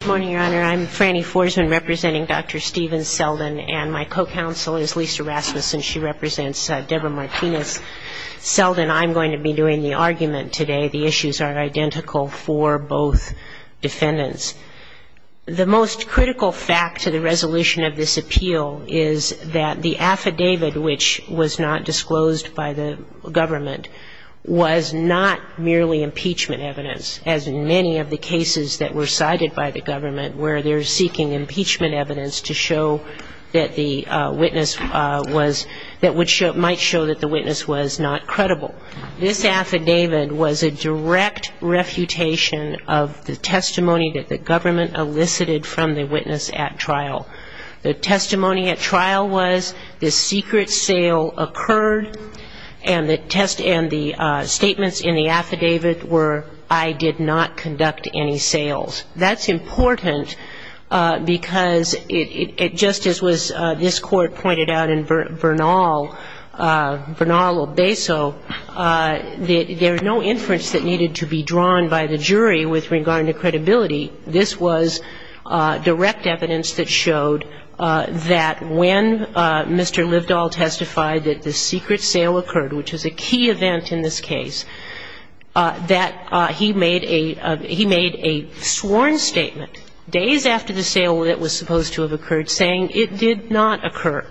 and my co-counsel is Lisa Rasmussen. She represents Deborah Martinez. Seldon, I'm going to be doing the argument today. The issues are identical for both defendants. The most critical fact to the resolution of this appeal is that the affidavit, which was not disclosed by the government, was not merely impeachment evidence, as in many of the cases that were cited by the court. This affidavit was a direct refutation of the testimony that the government elicited from the witness at trial. The testimony at trial was the secret sale occurred, and the test and the statements in the affidavit were I did not conduct any sales. This is important because it just as was this Court pointed out in Bernal, Bernal-Beso, there was no inference that needed to be drawn by the jury with regard to credibility. This was direct evidence that showed that when Mr. Livedahl testified that the secret sale occurred, which was a key event in this case, that he made a sworn statement days after the sale that was supposed to have occurred, saying it did not occur.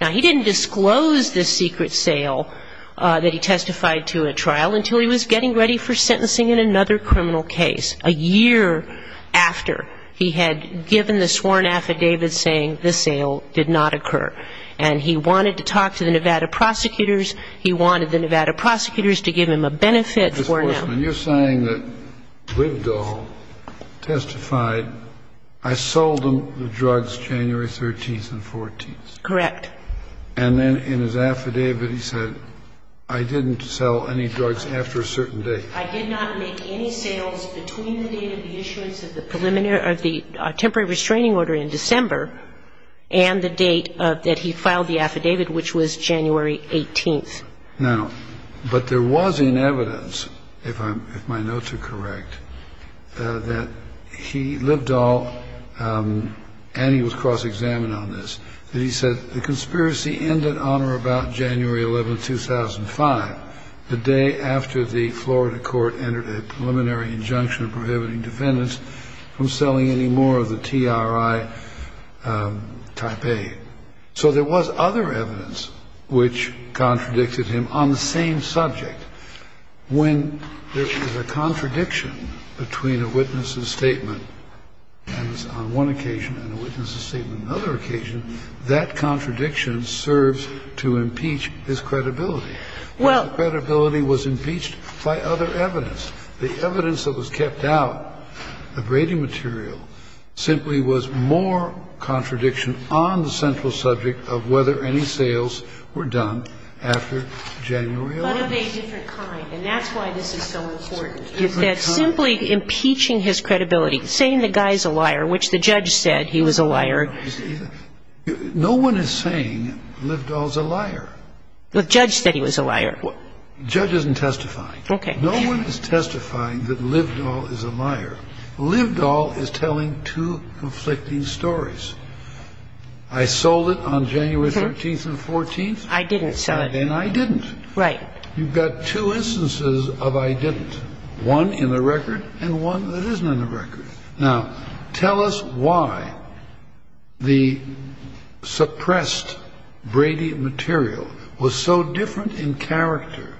Now, he didn't disclose the secret sale that he testified to at trial until he was getting ready for sentencing in another criminal case, a year after he had given the sworn affidavit saying the sale did not occur. And he wanted to talk to the Nevada prosecutors. He wanted the Nevada prosecutors to give him a benefit for now. Mr. Horstman, you're saying that Livedahl testified, I sold him the drugs January 13th and 14th. Correct. And then in his affidavit he said, I didn't sell any drugs after a certain date. I did not make any sales between the date of the issuance of the preliminary or the temporary restraining order in December and the date that he filed the affidavit, which was January 18th. Now, but there was in evidence, if my notes are correct, that he, Livedahl, and he was cross-examined on this, that he said the conspiracy ended on or about January 11th, 2005, the day after the Florida court entered a preliminary injunction prohibiting defendants from selling any more of the TRI type A. So there was other evidence which contradicted him on the same subject. When there is a contradiction between a witness's statement on one occasion and a witness's statement on another occasion, that contradiction serves to impeach his credibility. Well, the credibility was impeached by other evidence. The evidence that was kept out, the braiding material, simply was more contradiction on the central subject of whether any sales were done after January 11th. But of a different kind, and that's why this is so important. It's that simply impeaching his credibility, saying the guy's a liar, which the judge said he was a liar. No one is saying Livedahl's a liar. The judge said he was a liar. The judge isn't testifying. Okay. No one is testifying that Livedahl is a liar. Livedahl is telling two conflicting stories. I sold it on January 13th and 14th. I didn't sell it. And I didn't. Right. You've got two instances of I didn't, one in the record and one that isn't in the record. Now, tell us why the suppressed braiding material was so different in character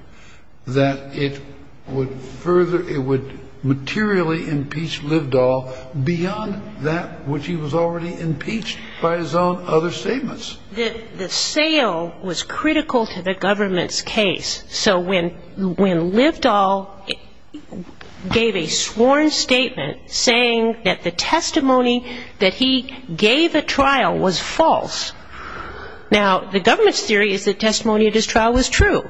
that it would further, it would materially impeach Livedahl beyond that which he was already impeached by his own other statements. The sale was critical to the government's case. So when Livedahl gave a sworn statement saying that the testimony that he gave at trial was false, now the government's theory is that testimony at his trial was true.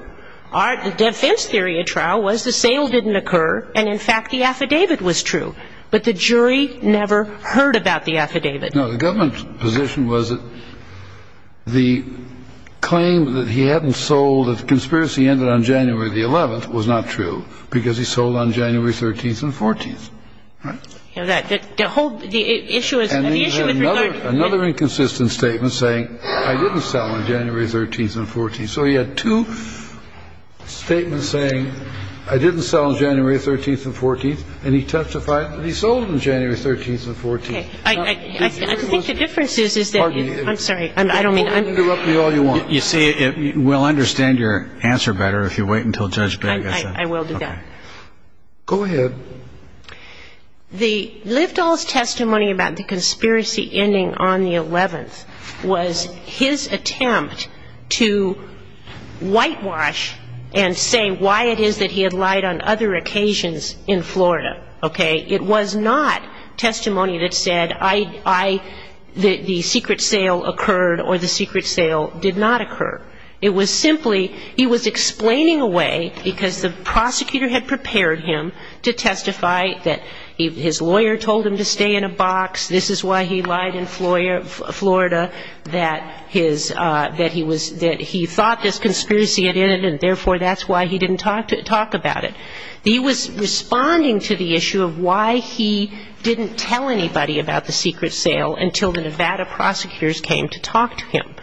Our defense theory at trial was the sale didn't occur and, in fact, the affidavit was true. But the jury never heard about the affidavit. The government's position was that the claim that he hadn't sold, that the conspiracy ended on January the 11th was not true because he sold on January 13th and 14th. Right? The whole, the issue is, the issue with regard to. Another inconsistent statement saying I didn't sell on January 13th and 14th. So he had two statements saying I didn't sell on January 13th and 14th and he testified that he sold on January 13th and 14th. I think the difference is, is that. I'm sorry. I don't mean. You see, we'll understand your answer better if you wait until Judge Begg. I will do that. Go ahead. The Livedahl's testimony about the conspiracy ending on the 11th was his attempt to whitewash and say why it is that he had lied on other occasions in Florida. Okay? It was not testimony that said I, the secret sale occurred or the secret sale did not occur. It was simply he was explaining away, because the prosecutor had prepared him to testify that his lawyer told him to stay in a box, this is why he lied in Florida, that his, that he was, that he thought this conspiracy had ended and therefore that's why he didn't talk about it. He was responding to the issue of why he didn't tell anybody about the secret sale until the Nevada prosecutors came to talk to him.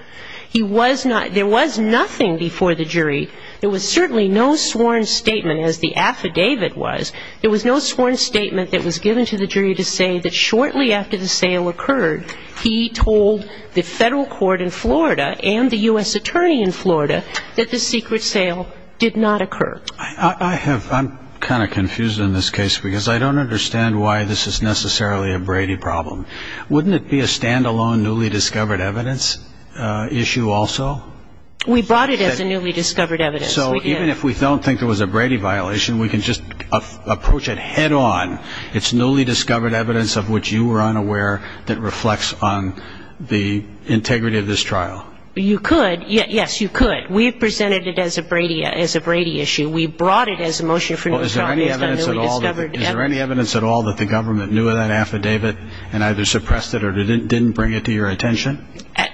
He was not, there was nothing before the jury, there was certainly no sworn statement as the affidavit was, there was no sworn statement that was given to the jury to say that shortly after the sale occurred, he told the federal court in Florida and the U.S. attorney in Florida that the secret sale did not occur. I have, I'm kind of confused in this case because I don't understand why this is necessarily a Brady problem. Wouldn't it be a standalone newly discovered evidence issue also? We brought it as a newly discovered evidence. So even if we don't think it was a Brady violation, we can just approach it head on. It's newly discovered evidence of which you were unaware that reflects on the integrity of this trial. You could, yes, you could. But we presented it as a Brady issue. We brought it as a motion for new trial based on newly discovered evidence. Is there any evidence at all that the government knew of that affidavit and either suppressed it or didn't bring it to your attention?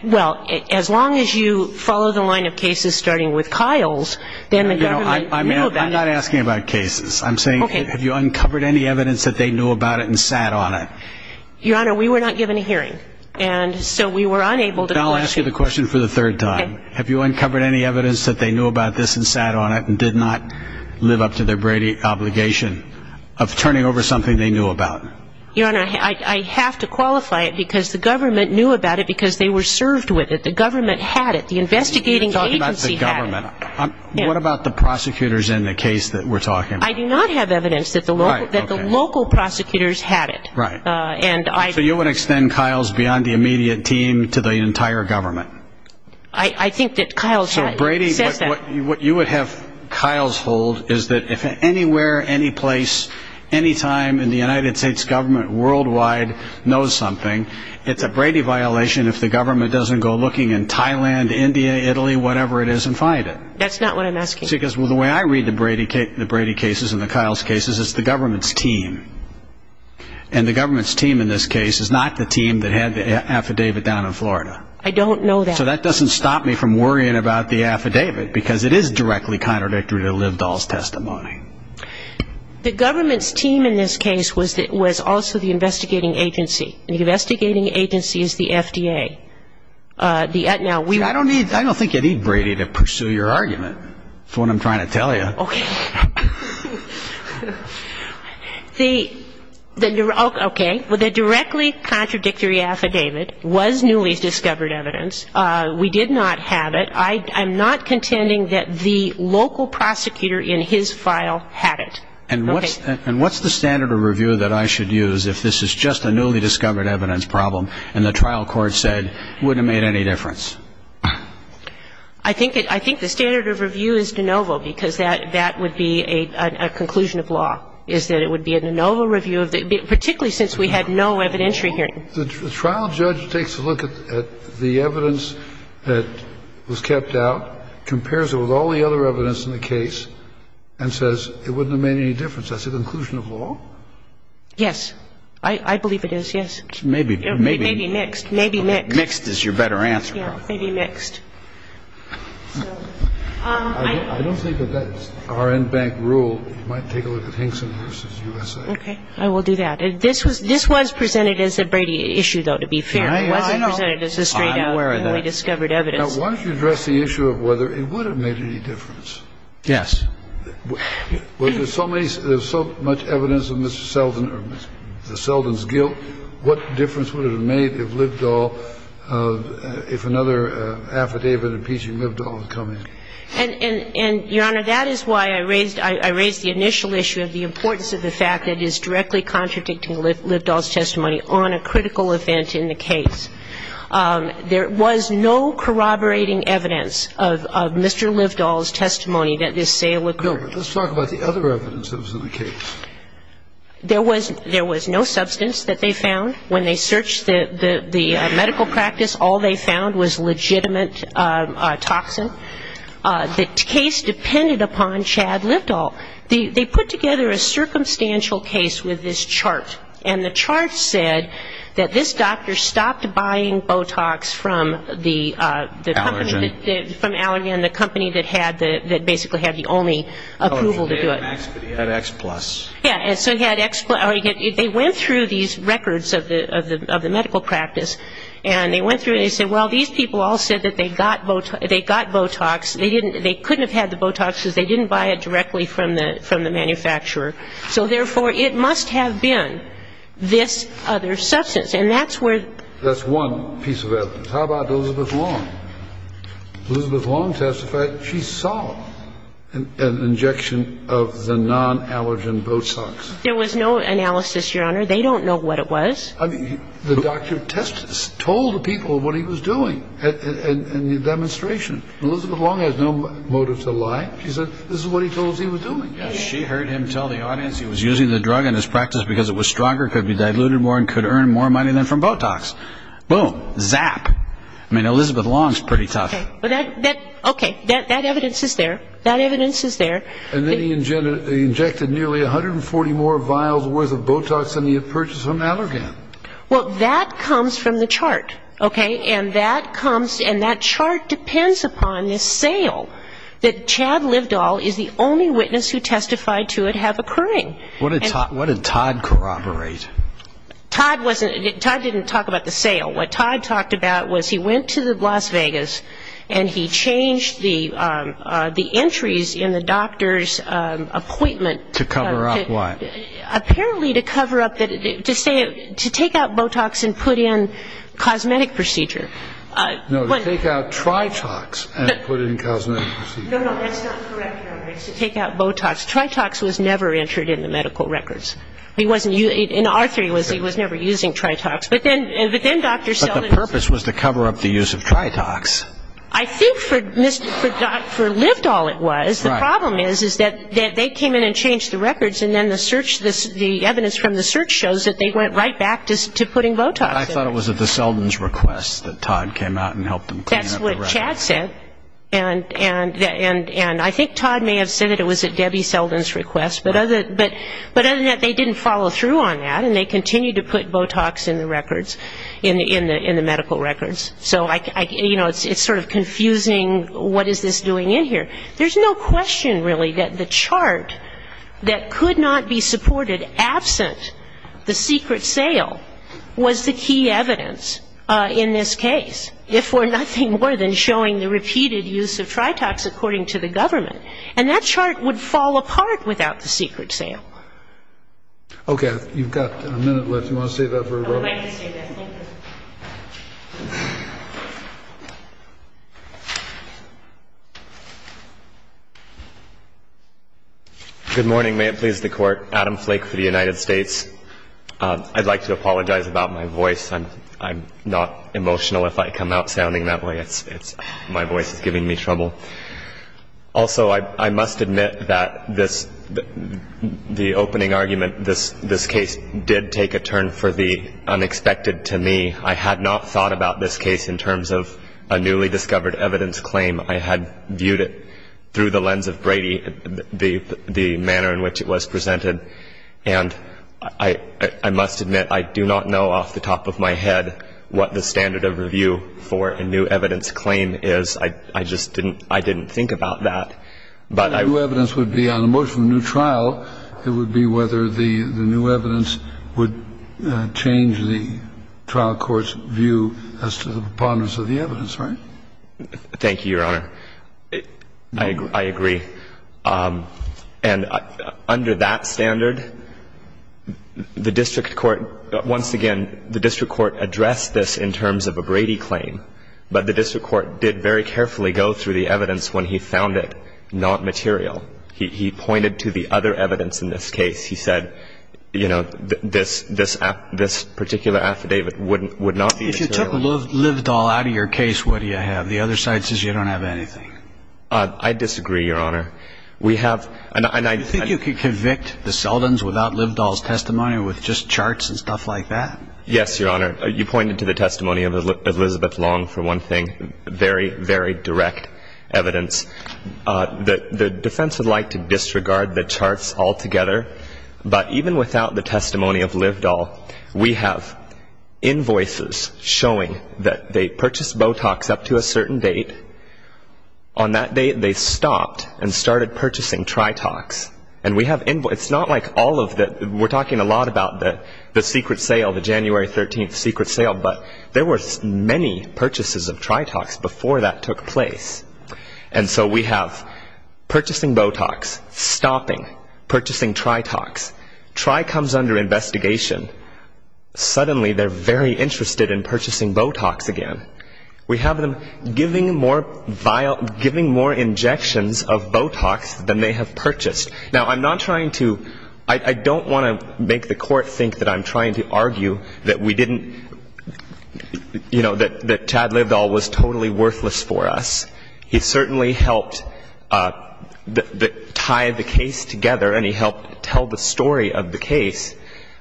Well, as long as you follow the line of cases starting with Kyle's, then the government knew about it. I'm not asking about cases. I'm saying have you uncovered any evidence that they knew about it and sat on it? Your Honor, we were not given a hearing. And so we were unable to question. Then I'll ask you the question for the third time. Have you uncovered any evidence that they knew about this and sat on it and did not live up to their Brady obligation of turning over something they knew about? Your Honor, I have to qualify it because the government knew about it because they were served with it. The government had it. The investigating agency had it. You're talking about the government. What about the prosecutors in the case that we're talking about? I do not have evidence that the local prosecutors had it. Right. So you would extend Kyle's beyond the immediate team to the entire government? I think that Kyle's had it. What you would have Kyle's hold is that if anywhere, any place, any time in the United States government worldwide knows something, it's a Brady violation if the government doesn't go looking in Thailand, India, Italy, whatever it is, and find it. That's not what I'm asking. Because the way I read the Brady cases and the Kyle's cases, it's the government's team. And the government's team in this case is not the team that had the affidavit down in Florida. I don't know that. So that doesn't stop me from worrying about the affidavit, because it is directly contradictory to Libdol's testimony. The government's team in this case was also the investigating agency. The investigating agency is the FDA. Now, we don't need to pursue your argument. That's what I'm trying to tell you. Okay. Okay. Well, the directly contradictory affidavit was newly discovered evidence. We did not have it. I'm not contending that the local prosecutor in his file had it. Okay. And what's the standard of review that I should use if this is just a newly discovered evidence problem and the trial court said it wouldn't have made any difference? I think the standard of review is de novo, because that would be a conclusion of law, is that it would be a de novo review, particularly since we had no evidentiary hearing. The trial judge takes a look at the evidence that was kept out, compares it with all the other evidence in the case, and says it wouldn't have made any difference. Is that the conclusion of law? Yes. I believe it is, yes. Maybe mixed. Maybe mixed. Mixed is your better answer, probably. Maybe mixed. I don't think that that's our in-bank rule. We might take a look at Hinkson v. USA. Okay. I will do that. This was presented as a Brady issue, though, to be fair. It wasn't presented as a straight out newly discovered evidence. I'm aware of that. Now, why don't you address the issue of whether it would have made any difference? Yes. Well, there's so much evidence of Mr. Selden's guilt. And if it had made any difference, if it had made any difference to Mr. Selden, what difference would it have made if Liddall, if another affidavit impeaching Liddall had come in? And, Your Honor, that is why I raised the initial issue of the importance of the fact that it is directly contradicting Liddall's testimony on a critical event in the case. There was no corroborating evidence of Mr. Liddall's testimony that this sale occurred. No, but let's talk about the other evidence that was in the case. There was no substance that they found. When they searched the medical practice, all they found was legitimate toxin. The case depended upon Chad Liddall. They put together a circumstantial case with this chart, and the chart said that this doctor stopped buying Botox from the company. Allergen. From Allergen, the company that basically had the only approval to do it. He had X plus. Yes, so he had X plus. They went through these records of the medical practice, and they went through and they said, well, these people all said that they got Botox. They couldn't have had the Botox because they didn't buy it directly from the manufacturer. So, therefore, it must have been this other substance, and that's where. That's one piece of evidence. How about Elizabeth Long? Elizabeth Long testified she saw an injection of the non-allergen Botox. There was no analysis, Your Honor. They don't know what it was. I mean, the doctor told the people what he was doing in the demonstration. Elizabeth Long has no motive to lie. She said this is what he told us he was doing. She heard him tell the audience he was using the drug in his practice because it was stronger, could be diluted more, and could earn more money than from Botox. Boom. Zap. I mean, Elizabeth Long is pretty tough. Okay. That evidence is there. That evidence is there. And then he injected nearly 140 more vials worth of Botox than he had purchased from Allergen. Well, that comes from the chart, okay? And that chart depends upon this sale that Chad Livedahl is the only witness who testified to it have occurring. What did Todd corroborate? Todd didn't talk about the sale. What Todd talked about was he went to Las Vegas and he changed the entries in the doctor's appointment. To cover up what? Apparently to cover up that to say to take out Botox and put in cosmetic procedure. No, to take out Tritox and put in cosmetic procedure. No, no, that's not correct. To take out Botox. Tritox was never entered in the medical records. He wasn't using it. In our theory, he was never using Tritox. But then Dr. Selden was. But the purpose was to cover up the use of Tritox. I think for Livedahl it was. Right. The problem is that they came in and changed the records and then the evidence from the search shows that they went right back to putting Botox in. I thought it was at the Selden's request that Todd came out and helped them clean up the records. That's what Chad said. And I think Todd may have said it was at Debbie Selden's request. But other than that, they didn't follow through on that. And they continued to put Botox in the records, in the medical records. So, you know, it's sort of confusing what is this doing in here. There's no question, really, that the chart that could not be supported absent the secret sale was the key evidence in this case. If for nothing more than showing the repeated use of Tritox according to the government. And that chart would fall apart without the secret sale. Okay. You've got a minute left. Do you want to save that for a vote? I'd like to save that. Good morning. May it please the Court. Adam Flake for the United States. I'd like to apologize about my voice. I'm not emotional if I come out sounding that way. My voice is giving me trouble. Also, I must admit that this, the opening argument, this case did take a turn for the unexpected to me. I had not thought about this case in terms of a newly discovered evidence claim. I had viewed it through the lens of Brady, the manner in which it was presented. And I must admit, I do not know off the top of my head what the standard of review for a new evidence claim is. I just didn't think about that. The new evidence would be on a motion of new trial. It would be whether the new evidence would change the trial court's view as to the preponderance of the evidence, right? Thank you, Your Honor. I agree. And under that standard, the district court, once again, the district court addressed this in terms of a Brady claim. But the district court did very carefully go through the evidence when he found it not material. He pointed to the other evidence in this case. He said, you know, this particular affidavit would not be material. If you took Livedahl out of your case, what do you have? The other side says you don't have anything. I disagree, Your Honor. We have an idea. Do you think you could convict the Seldins without Livedahl's testimony, with just charts and stuff like that? Yes, Your Honor. You pointed to the testimony of Elizabeth Long, for one thing, very, very direct evidence. The defense would like to disregard the charts altogether. But even without the testimony of Livedahl, we have invoices showing that they purchased Botox up to a certain date. On that date, they stopped and started purchasing Tritox. And we have invoices. We're talking a lot about the secret sale, the January 13th secret sale. But there were many purchases of Tritox before that took place. And so we have purchasing Botox, stopping, purchasing Tritox. Tri comes under investigation. Suddenly, they're very interested in purchasing Botox again. We have them giving more injections of Botox than they have purchased. Now, I'm not trying to ‑‑ I don't want to make the Court think that I'm trying to argue that we didn't, you know, that Chad Livedahl was totally worthless for us. He certainly helped tie the case together, and he helped tell the story of the case.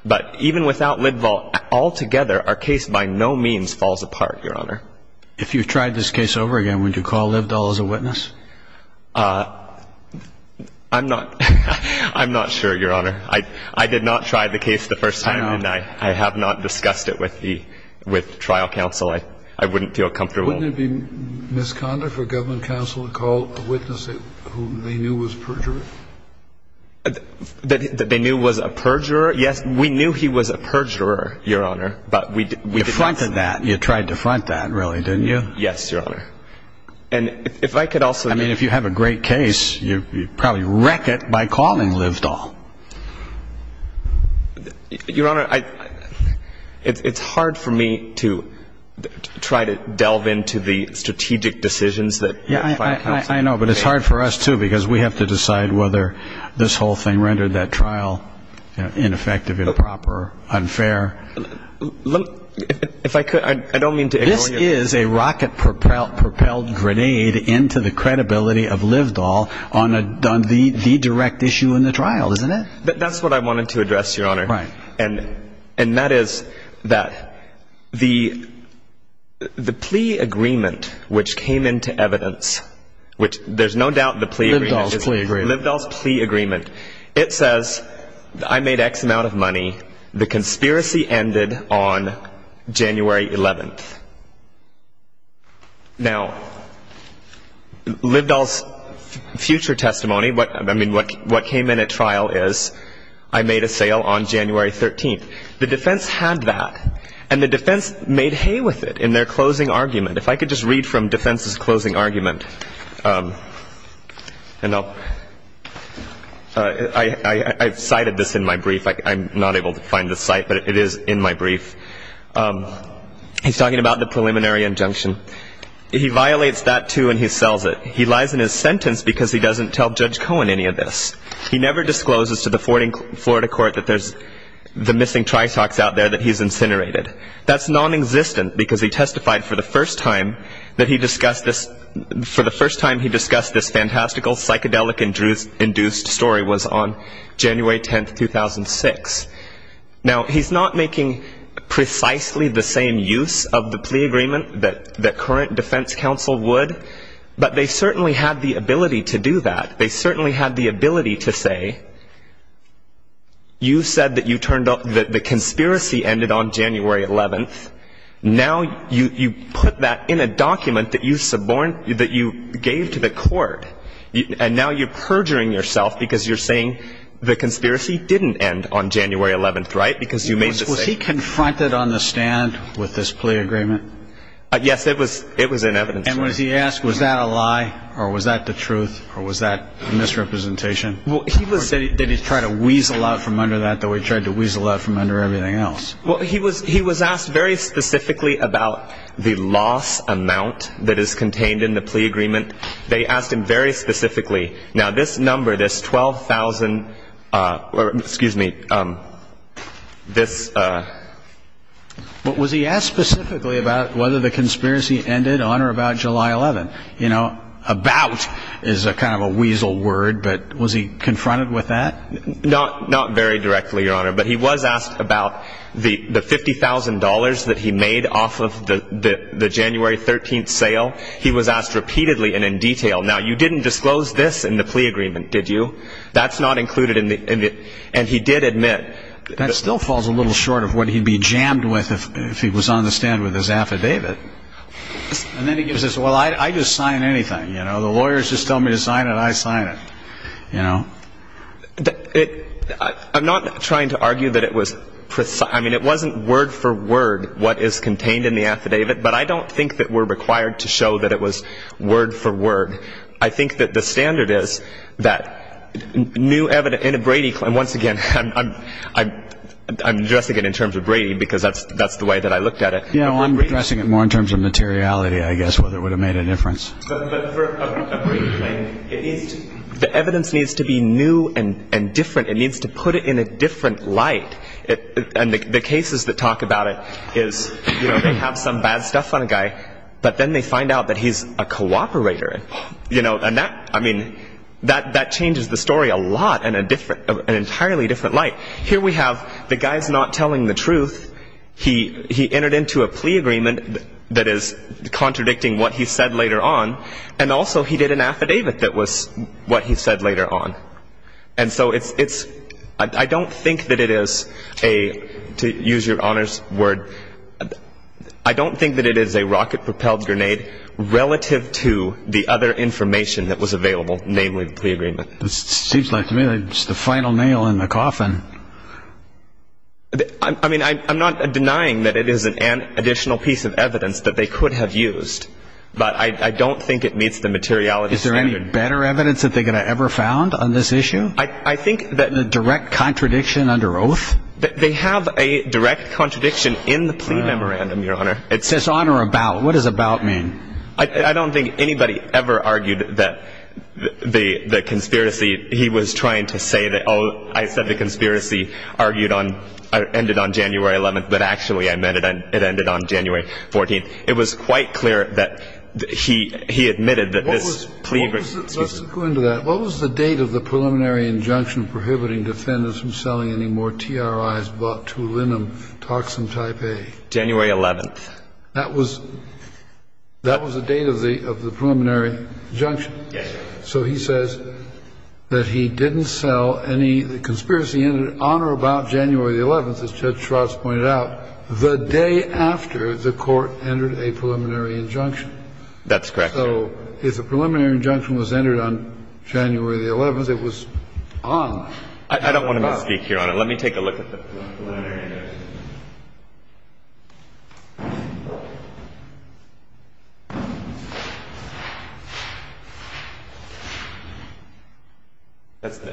But even without Livedahl altogether, our case by no means falls apart, Your Honor. If you tried this case over again, would you call Livedahl as a witness? I'm not ‑‑ I'm not sure, Your Honor. I did not try the case the first time, and I have not discussed it with trial counsel. I wouldn't feel comfortable. Wouldn't it be misconduct for government counsel to call a witness who they knew was perjurer? That they knew was a perjurer? Yes, we knew he was a perjurer, Your Honor, but we didn't ‑‑ You tried to front that, really, didn't you? Yes, Your Honor. And if I could also ‑‑ I mean, if you have a great case, you probably wreck it by calling Livedahl. Your Honor, it's hard for me to try to delve into the strategic decisions that ‑‑ Yeah, I know, but it's hard for us, too, because we have to decide whether this whole thing rendered that trial ineffective, improper, unfair. If I could, I don't mean to ‑‑ There is a rocket propelled grenade into the credibility of Livedahl on the direct issue in the trial, isn't it? That's what I wanted to address, Your Honor. Right. And that is that the plea agreement which came into evidence, which there's no doubt the plea agreement is ‑‑ Livedahl's plea agreement. Livedahl's plea agreement. It says, I made X amount of money. The conspiracy ended on January 11th. Now, Livedahl's future testimony, I mean, what came in at trial is, I made a sale on January 13th. The defense had that, and the defense made hay with it in their closing argument. If I could just read from defense's closing argument, and I'll ‑‑ I cited this in my brief. I'm not able to find the site, but it is in my brief. He's talking about the preliminary injunction. He violates that, too, and he sells it. He lies in his sentence because he doesn't tell Judge Cohen any of this. He never discloses to the Florida court that there's the missing tritox out there that he's incinerated. That's nonexistent, because he testified for the first time that he discussed this ‑‑ for the first time he discussed this fantastical, psychedelic‑induced story was on January 10th, 2006. Now, he's not making precisely the same use of the plea agreement that current defense counsel would, but they certainly had the ability to do that. They certainly had the ability to say, you said that you turned up ‑‑ that the conspiracy ended on January 11th. Now you put that in a document that you suborned ‑‑ that you gave to the court, and now you're perjuring yourself because you're saying the conspiracy didn't end on January 11th, right? Because you made the same ‑‑ Was he confronted on the stand with this plea agreement? Yes, it was in evidence. And was he asked, was that a lie, or was that the truth, or was that a misrepresentation? Well, he was ‑‑ Did he try to weasel out from under that, the way he tried to weasel out from under everything else? Well, he was asked very specifically about the loss amount that is contained in the plea agreement. They asked him very specifically. Now, this number, this 12,000 ‑‑ excuse me, this ‑‑ But was he asked specifically about whether the conspiracy ended on or about July 11th? You know, about is kind of a weasel word, but was he confronted with that? Not very directly, Your Honor, but he was asked about the $50,000 that he made off of the January 13th sale. He was asked repeatedly and in detail. Now, you didn't disclose this in the plea agreement, did you? That's not included in the ‑‑ and he did admit. That still falls a little short of what he'd be jammed with if he was on the stand with his affidavit. And then he gives this, well, I just sign anything, you know. The lawyers just tell me to sign it, I sign it, you know. I'm not trying to argue that it was ‑‑ I mean, it wasn't word for word what is contained in the affidavit, but I don't think that we're required to show that it was word for word. I think that the standard is that new evidence ‑‑ in a Brady claim, once again, I'm addressing it in terms of Brady because that's the way that I looked at it. You know, I'm addressing it more in terms of materiality, I guess, whether it would have made a difference. But for a Brady claim, the evidence needs to be new and different. It needs to put it in a different light. And the cases that talk about it is, you know, they have some bad stuff on a guy, but then they find out that he's a cooperator. You know, and that, I mean, that changes the story a lot in an entirely different light. Here we have the guy's not telling the truth. He entered into a plea agreement that is contradicting what he said later on, and also he did an affidavit that was what he said later on. And so it's ‑‑ I don't think that it is a, to use your honor's word, I don't think that it is a rocket propelled grenade relative to the other information that was available, namely the plea agreement. It seems like to me it's the final nail in the coffin. I mean, I'm not denying that it is an additional piece of evidence that they could have used, but I don't think it meets the materiality standard. Is there any better evidence that they could have ever found on this issue? I think that ‑‑ A direct contradiction under oath? They have a direct contradiction in the plea memorandum, your honor. It says honor about. What does about mean? I don't think anybody ever argued that the conspiracy, he was trying to say that, oh, I said the conspiracy argued on ‑‑ ended on January 11th, but actually I meant it ended on January 14th. It was quite clear that he admitted that this plea ‑‑ What was ‑‑ let's go into that. What was the date of the preliminary injunction prohibiting defendants from selling any more TRIs bought to Linum Toxin Type A? January 11th. That was ‑‑ that was the date of the preliminary injunction. Yes. So he says that he didn't sell any ‑‑ the conspiracy ended on or about January 11th, as Judge Schwartz pointed out, the day after the court entered a preliminary injunction. That's correct, your honor. So his preliminary injunction was entered on January the 11th. It was on. I don't want to misspeak, your honor. Let me take a look at the preliminary injunction.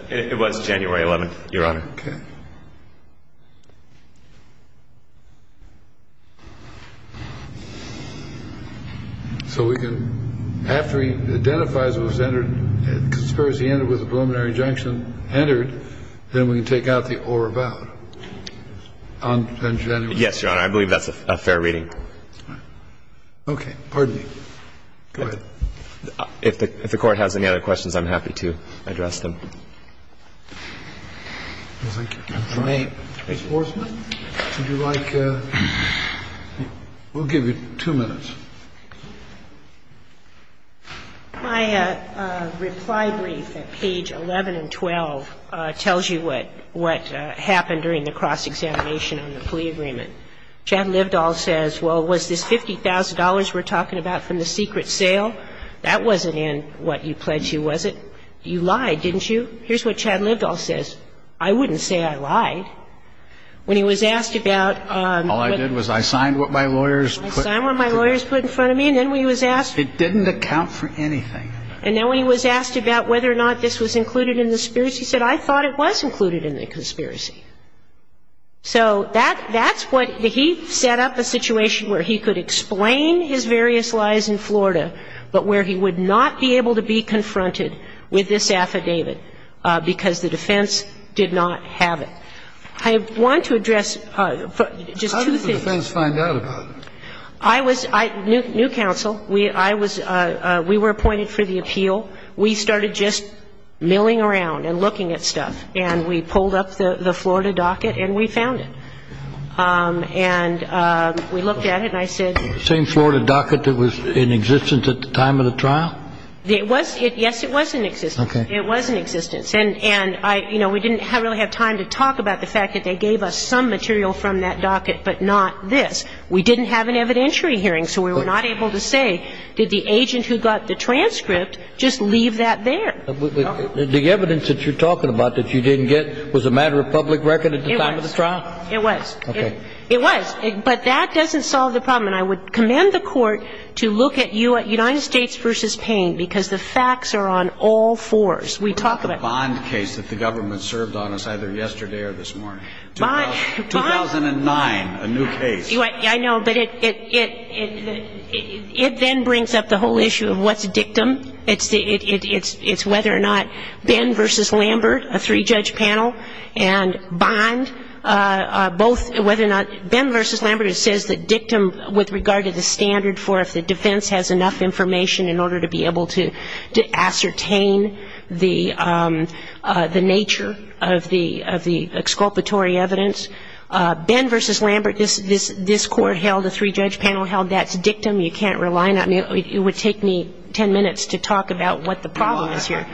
It was January 11th, your honor. Okay. So we can ‑‑ after he identifies it was entered, the conspiracy ended with the preliminary injunction entered, then we can take out the or about on January 11th. Yes, your honor. I believe that's a fair reading. Okay. Pardon me. Go ahead. If the court has any other questions, I'm happy to address them. Thank you. Ms. Horsman, would you like ‑‑ we'll give you two minutes. My reply brief at page 11 and 12 tells you what happened during the cross-examination on the plea agreement. Chad Livedahl says, well, was this $50,000 we're talking about from the secret sale? That wasn't in what you pledged, was it? You lied, didn't you? Here's what Chad Livedahl says. I wouldn't say I lied. When he was asked about ‑‑ All I did was I signed what my lawyers put in front of me. I signed what my lawyers put in front of me, and then when he was asked ‑‑ It didn't account for anything. And then when he was asked about whether or not this was included in the conspiracy, he said, I thought it was included in the conspiracy. So that's what ‑‑ he set up a situation where he could explain his various lies in Florida, but where he would not be able to be confronted with this affidavit because the defense did not have it. I want to address just two things. How did the defense find out about it? I was ‑‑ New Counsel, I was ‑‑ we were appointed for the appeal. We started just milling around and looking at stuff, and we pulled up the Florida docket and we found it. And we looked at it and I said ‑‑ The same Florida docket that was in existence at the time of the trial? It was ‑‑ yes, it was in existence. Okay. It was in existence. And, you know, we didn't really have time to talk about the fact that they gave us some material from that docket but not this. We didn't have an evidentiary hearing, so we were not able to say did the agent who got the transcript just leave that there? The evidence that you're talking about that you didn't get was a matter of public record at the time of the trial? It was. Okay. It was. But that doesn't solve the problem. And I would commend the court to look at United States v. Payne because the facts are on all fours. We talk about ‑‑ The Bond case that the government served on us either yesterday or this morning. Bond ‑‑ 2009, a new case. I know. But it then brings up the whole issue of what's dictum. It's whether or not Ben v. Lambert, a three‑judge panel, and Bond both ‑‑ whether or not ‑‑ Ben v. Lambert, it says that dictum with regard to the standard for if the defense has enough information in order to be able to ascertain the nature of the exculpatory evidence. Ben v. Lambert, this court held, the three‑judge panel held, that's dictum. You can't rely on it. It would take me ten minutes to talk about what the problem is here.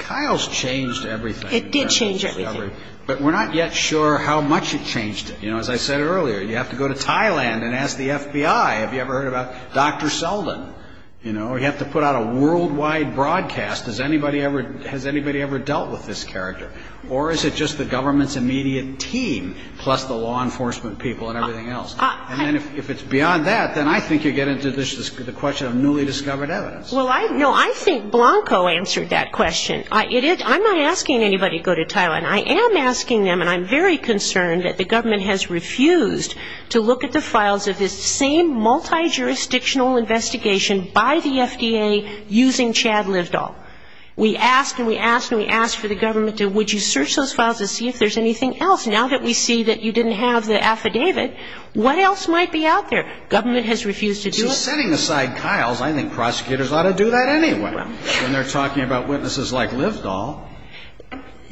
Kyle's changed everything. It did change everything. But we're not yet sure how much it changed. As I said earlier, you have to go to Thailand and ask the FBI, have you ever heard about Dr. Selden? You have to put out a worldwide broadcast. Has anybody ever dealt with this character? Or is it just the government's immediate team plus the law enforcement people and everything else? And then if it's beyond that, then I think you get into the question of newly discovered evidence. Well, no, I think Blanco answered that question. I'm not asking anybody to go to Thailand. I am asking them, and I'm very concerned that the government has refused to look at the files of this same multijurisdictional investigation by the FDA using Chad Livedahl. We asked and we asked and we asked for the government to, would you search those files to see if there's anything else? Now that we see that you didn't have the affidavit, what else might be out there? Government has refused to do it. So setting aside Kyle's, I think prosecutors ought to do that anyway when they're talking about witnesses like Livedahl.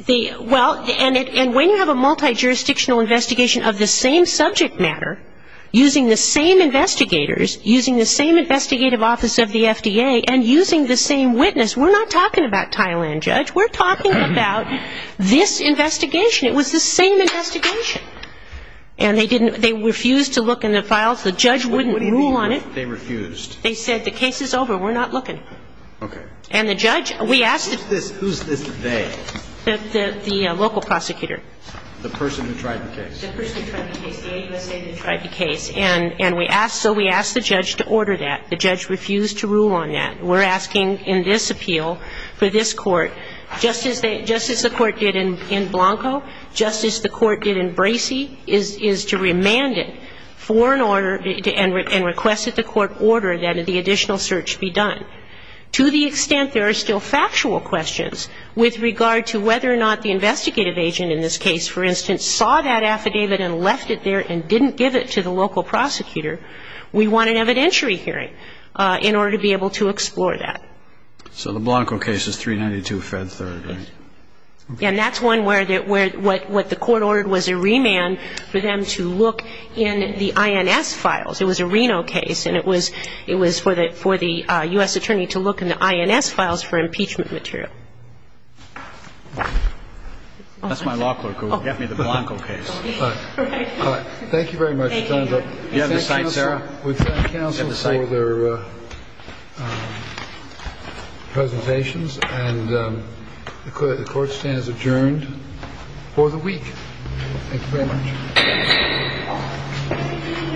Well, and when you have a multijurisdictional investigation of the same subject matter, using the same investigators, using the same investigative office of the FDA, and using the same witness, we're not talking about Thailand, Judge. We're talking about this investigation. It was the same investigation. And they refused to look in the files. The judge wouldn't rule on it. What do you mean they refused? They said the case is over. We're not looking. Okay. And the judge, we asked the judge. Who's this they? The local prosecutor. The person who tried the case. The person who tried the case. The AUSA that tried the case. And we asked, so we asked the judge to order that. The judge refused to rule on that. We're asking in this appeal for this Court, just as the Court did in Blanco, just as the Court did in Bracey, is to remand it for an order and request that the Court order that the additional search be done. To the extent there are still factual questions with regard to whether or not the investigative agent in this case, for instance, saw that affidavit and left it there and didn't give it to the local prosecutor, we want an evidentiary hearing in order to be able to explore that. So the Blanco case is 392 Fed 3rd, right? Yes. And that's one where the Court ordered was a remand for them to look in the INS files. It was a Reno case, and it was for the U.S. attorney to look in the INS files for impeachment material. That's my law clerk who got me the Blanco case. Thank you very much. Do you have the site, Sarah? We thank counsel for their presentations. And the Court stands adjourned for the week. Thank you very much. Thank you, Your Honor. These all present on behalf of the District Court of Columbia, I take these court appeals from the Ninth Circuit for an amnesty. And this court will recessional now and adjourn.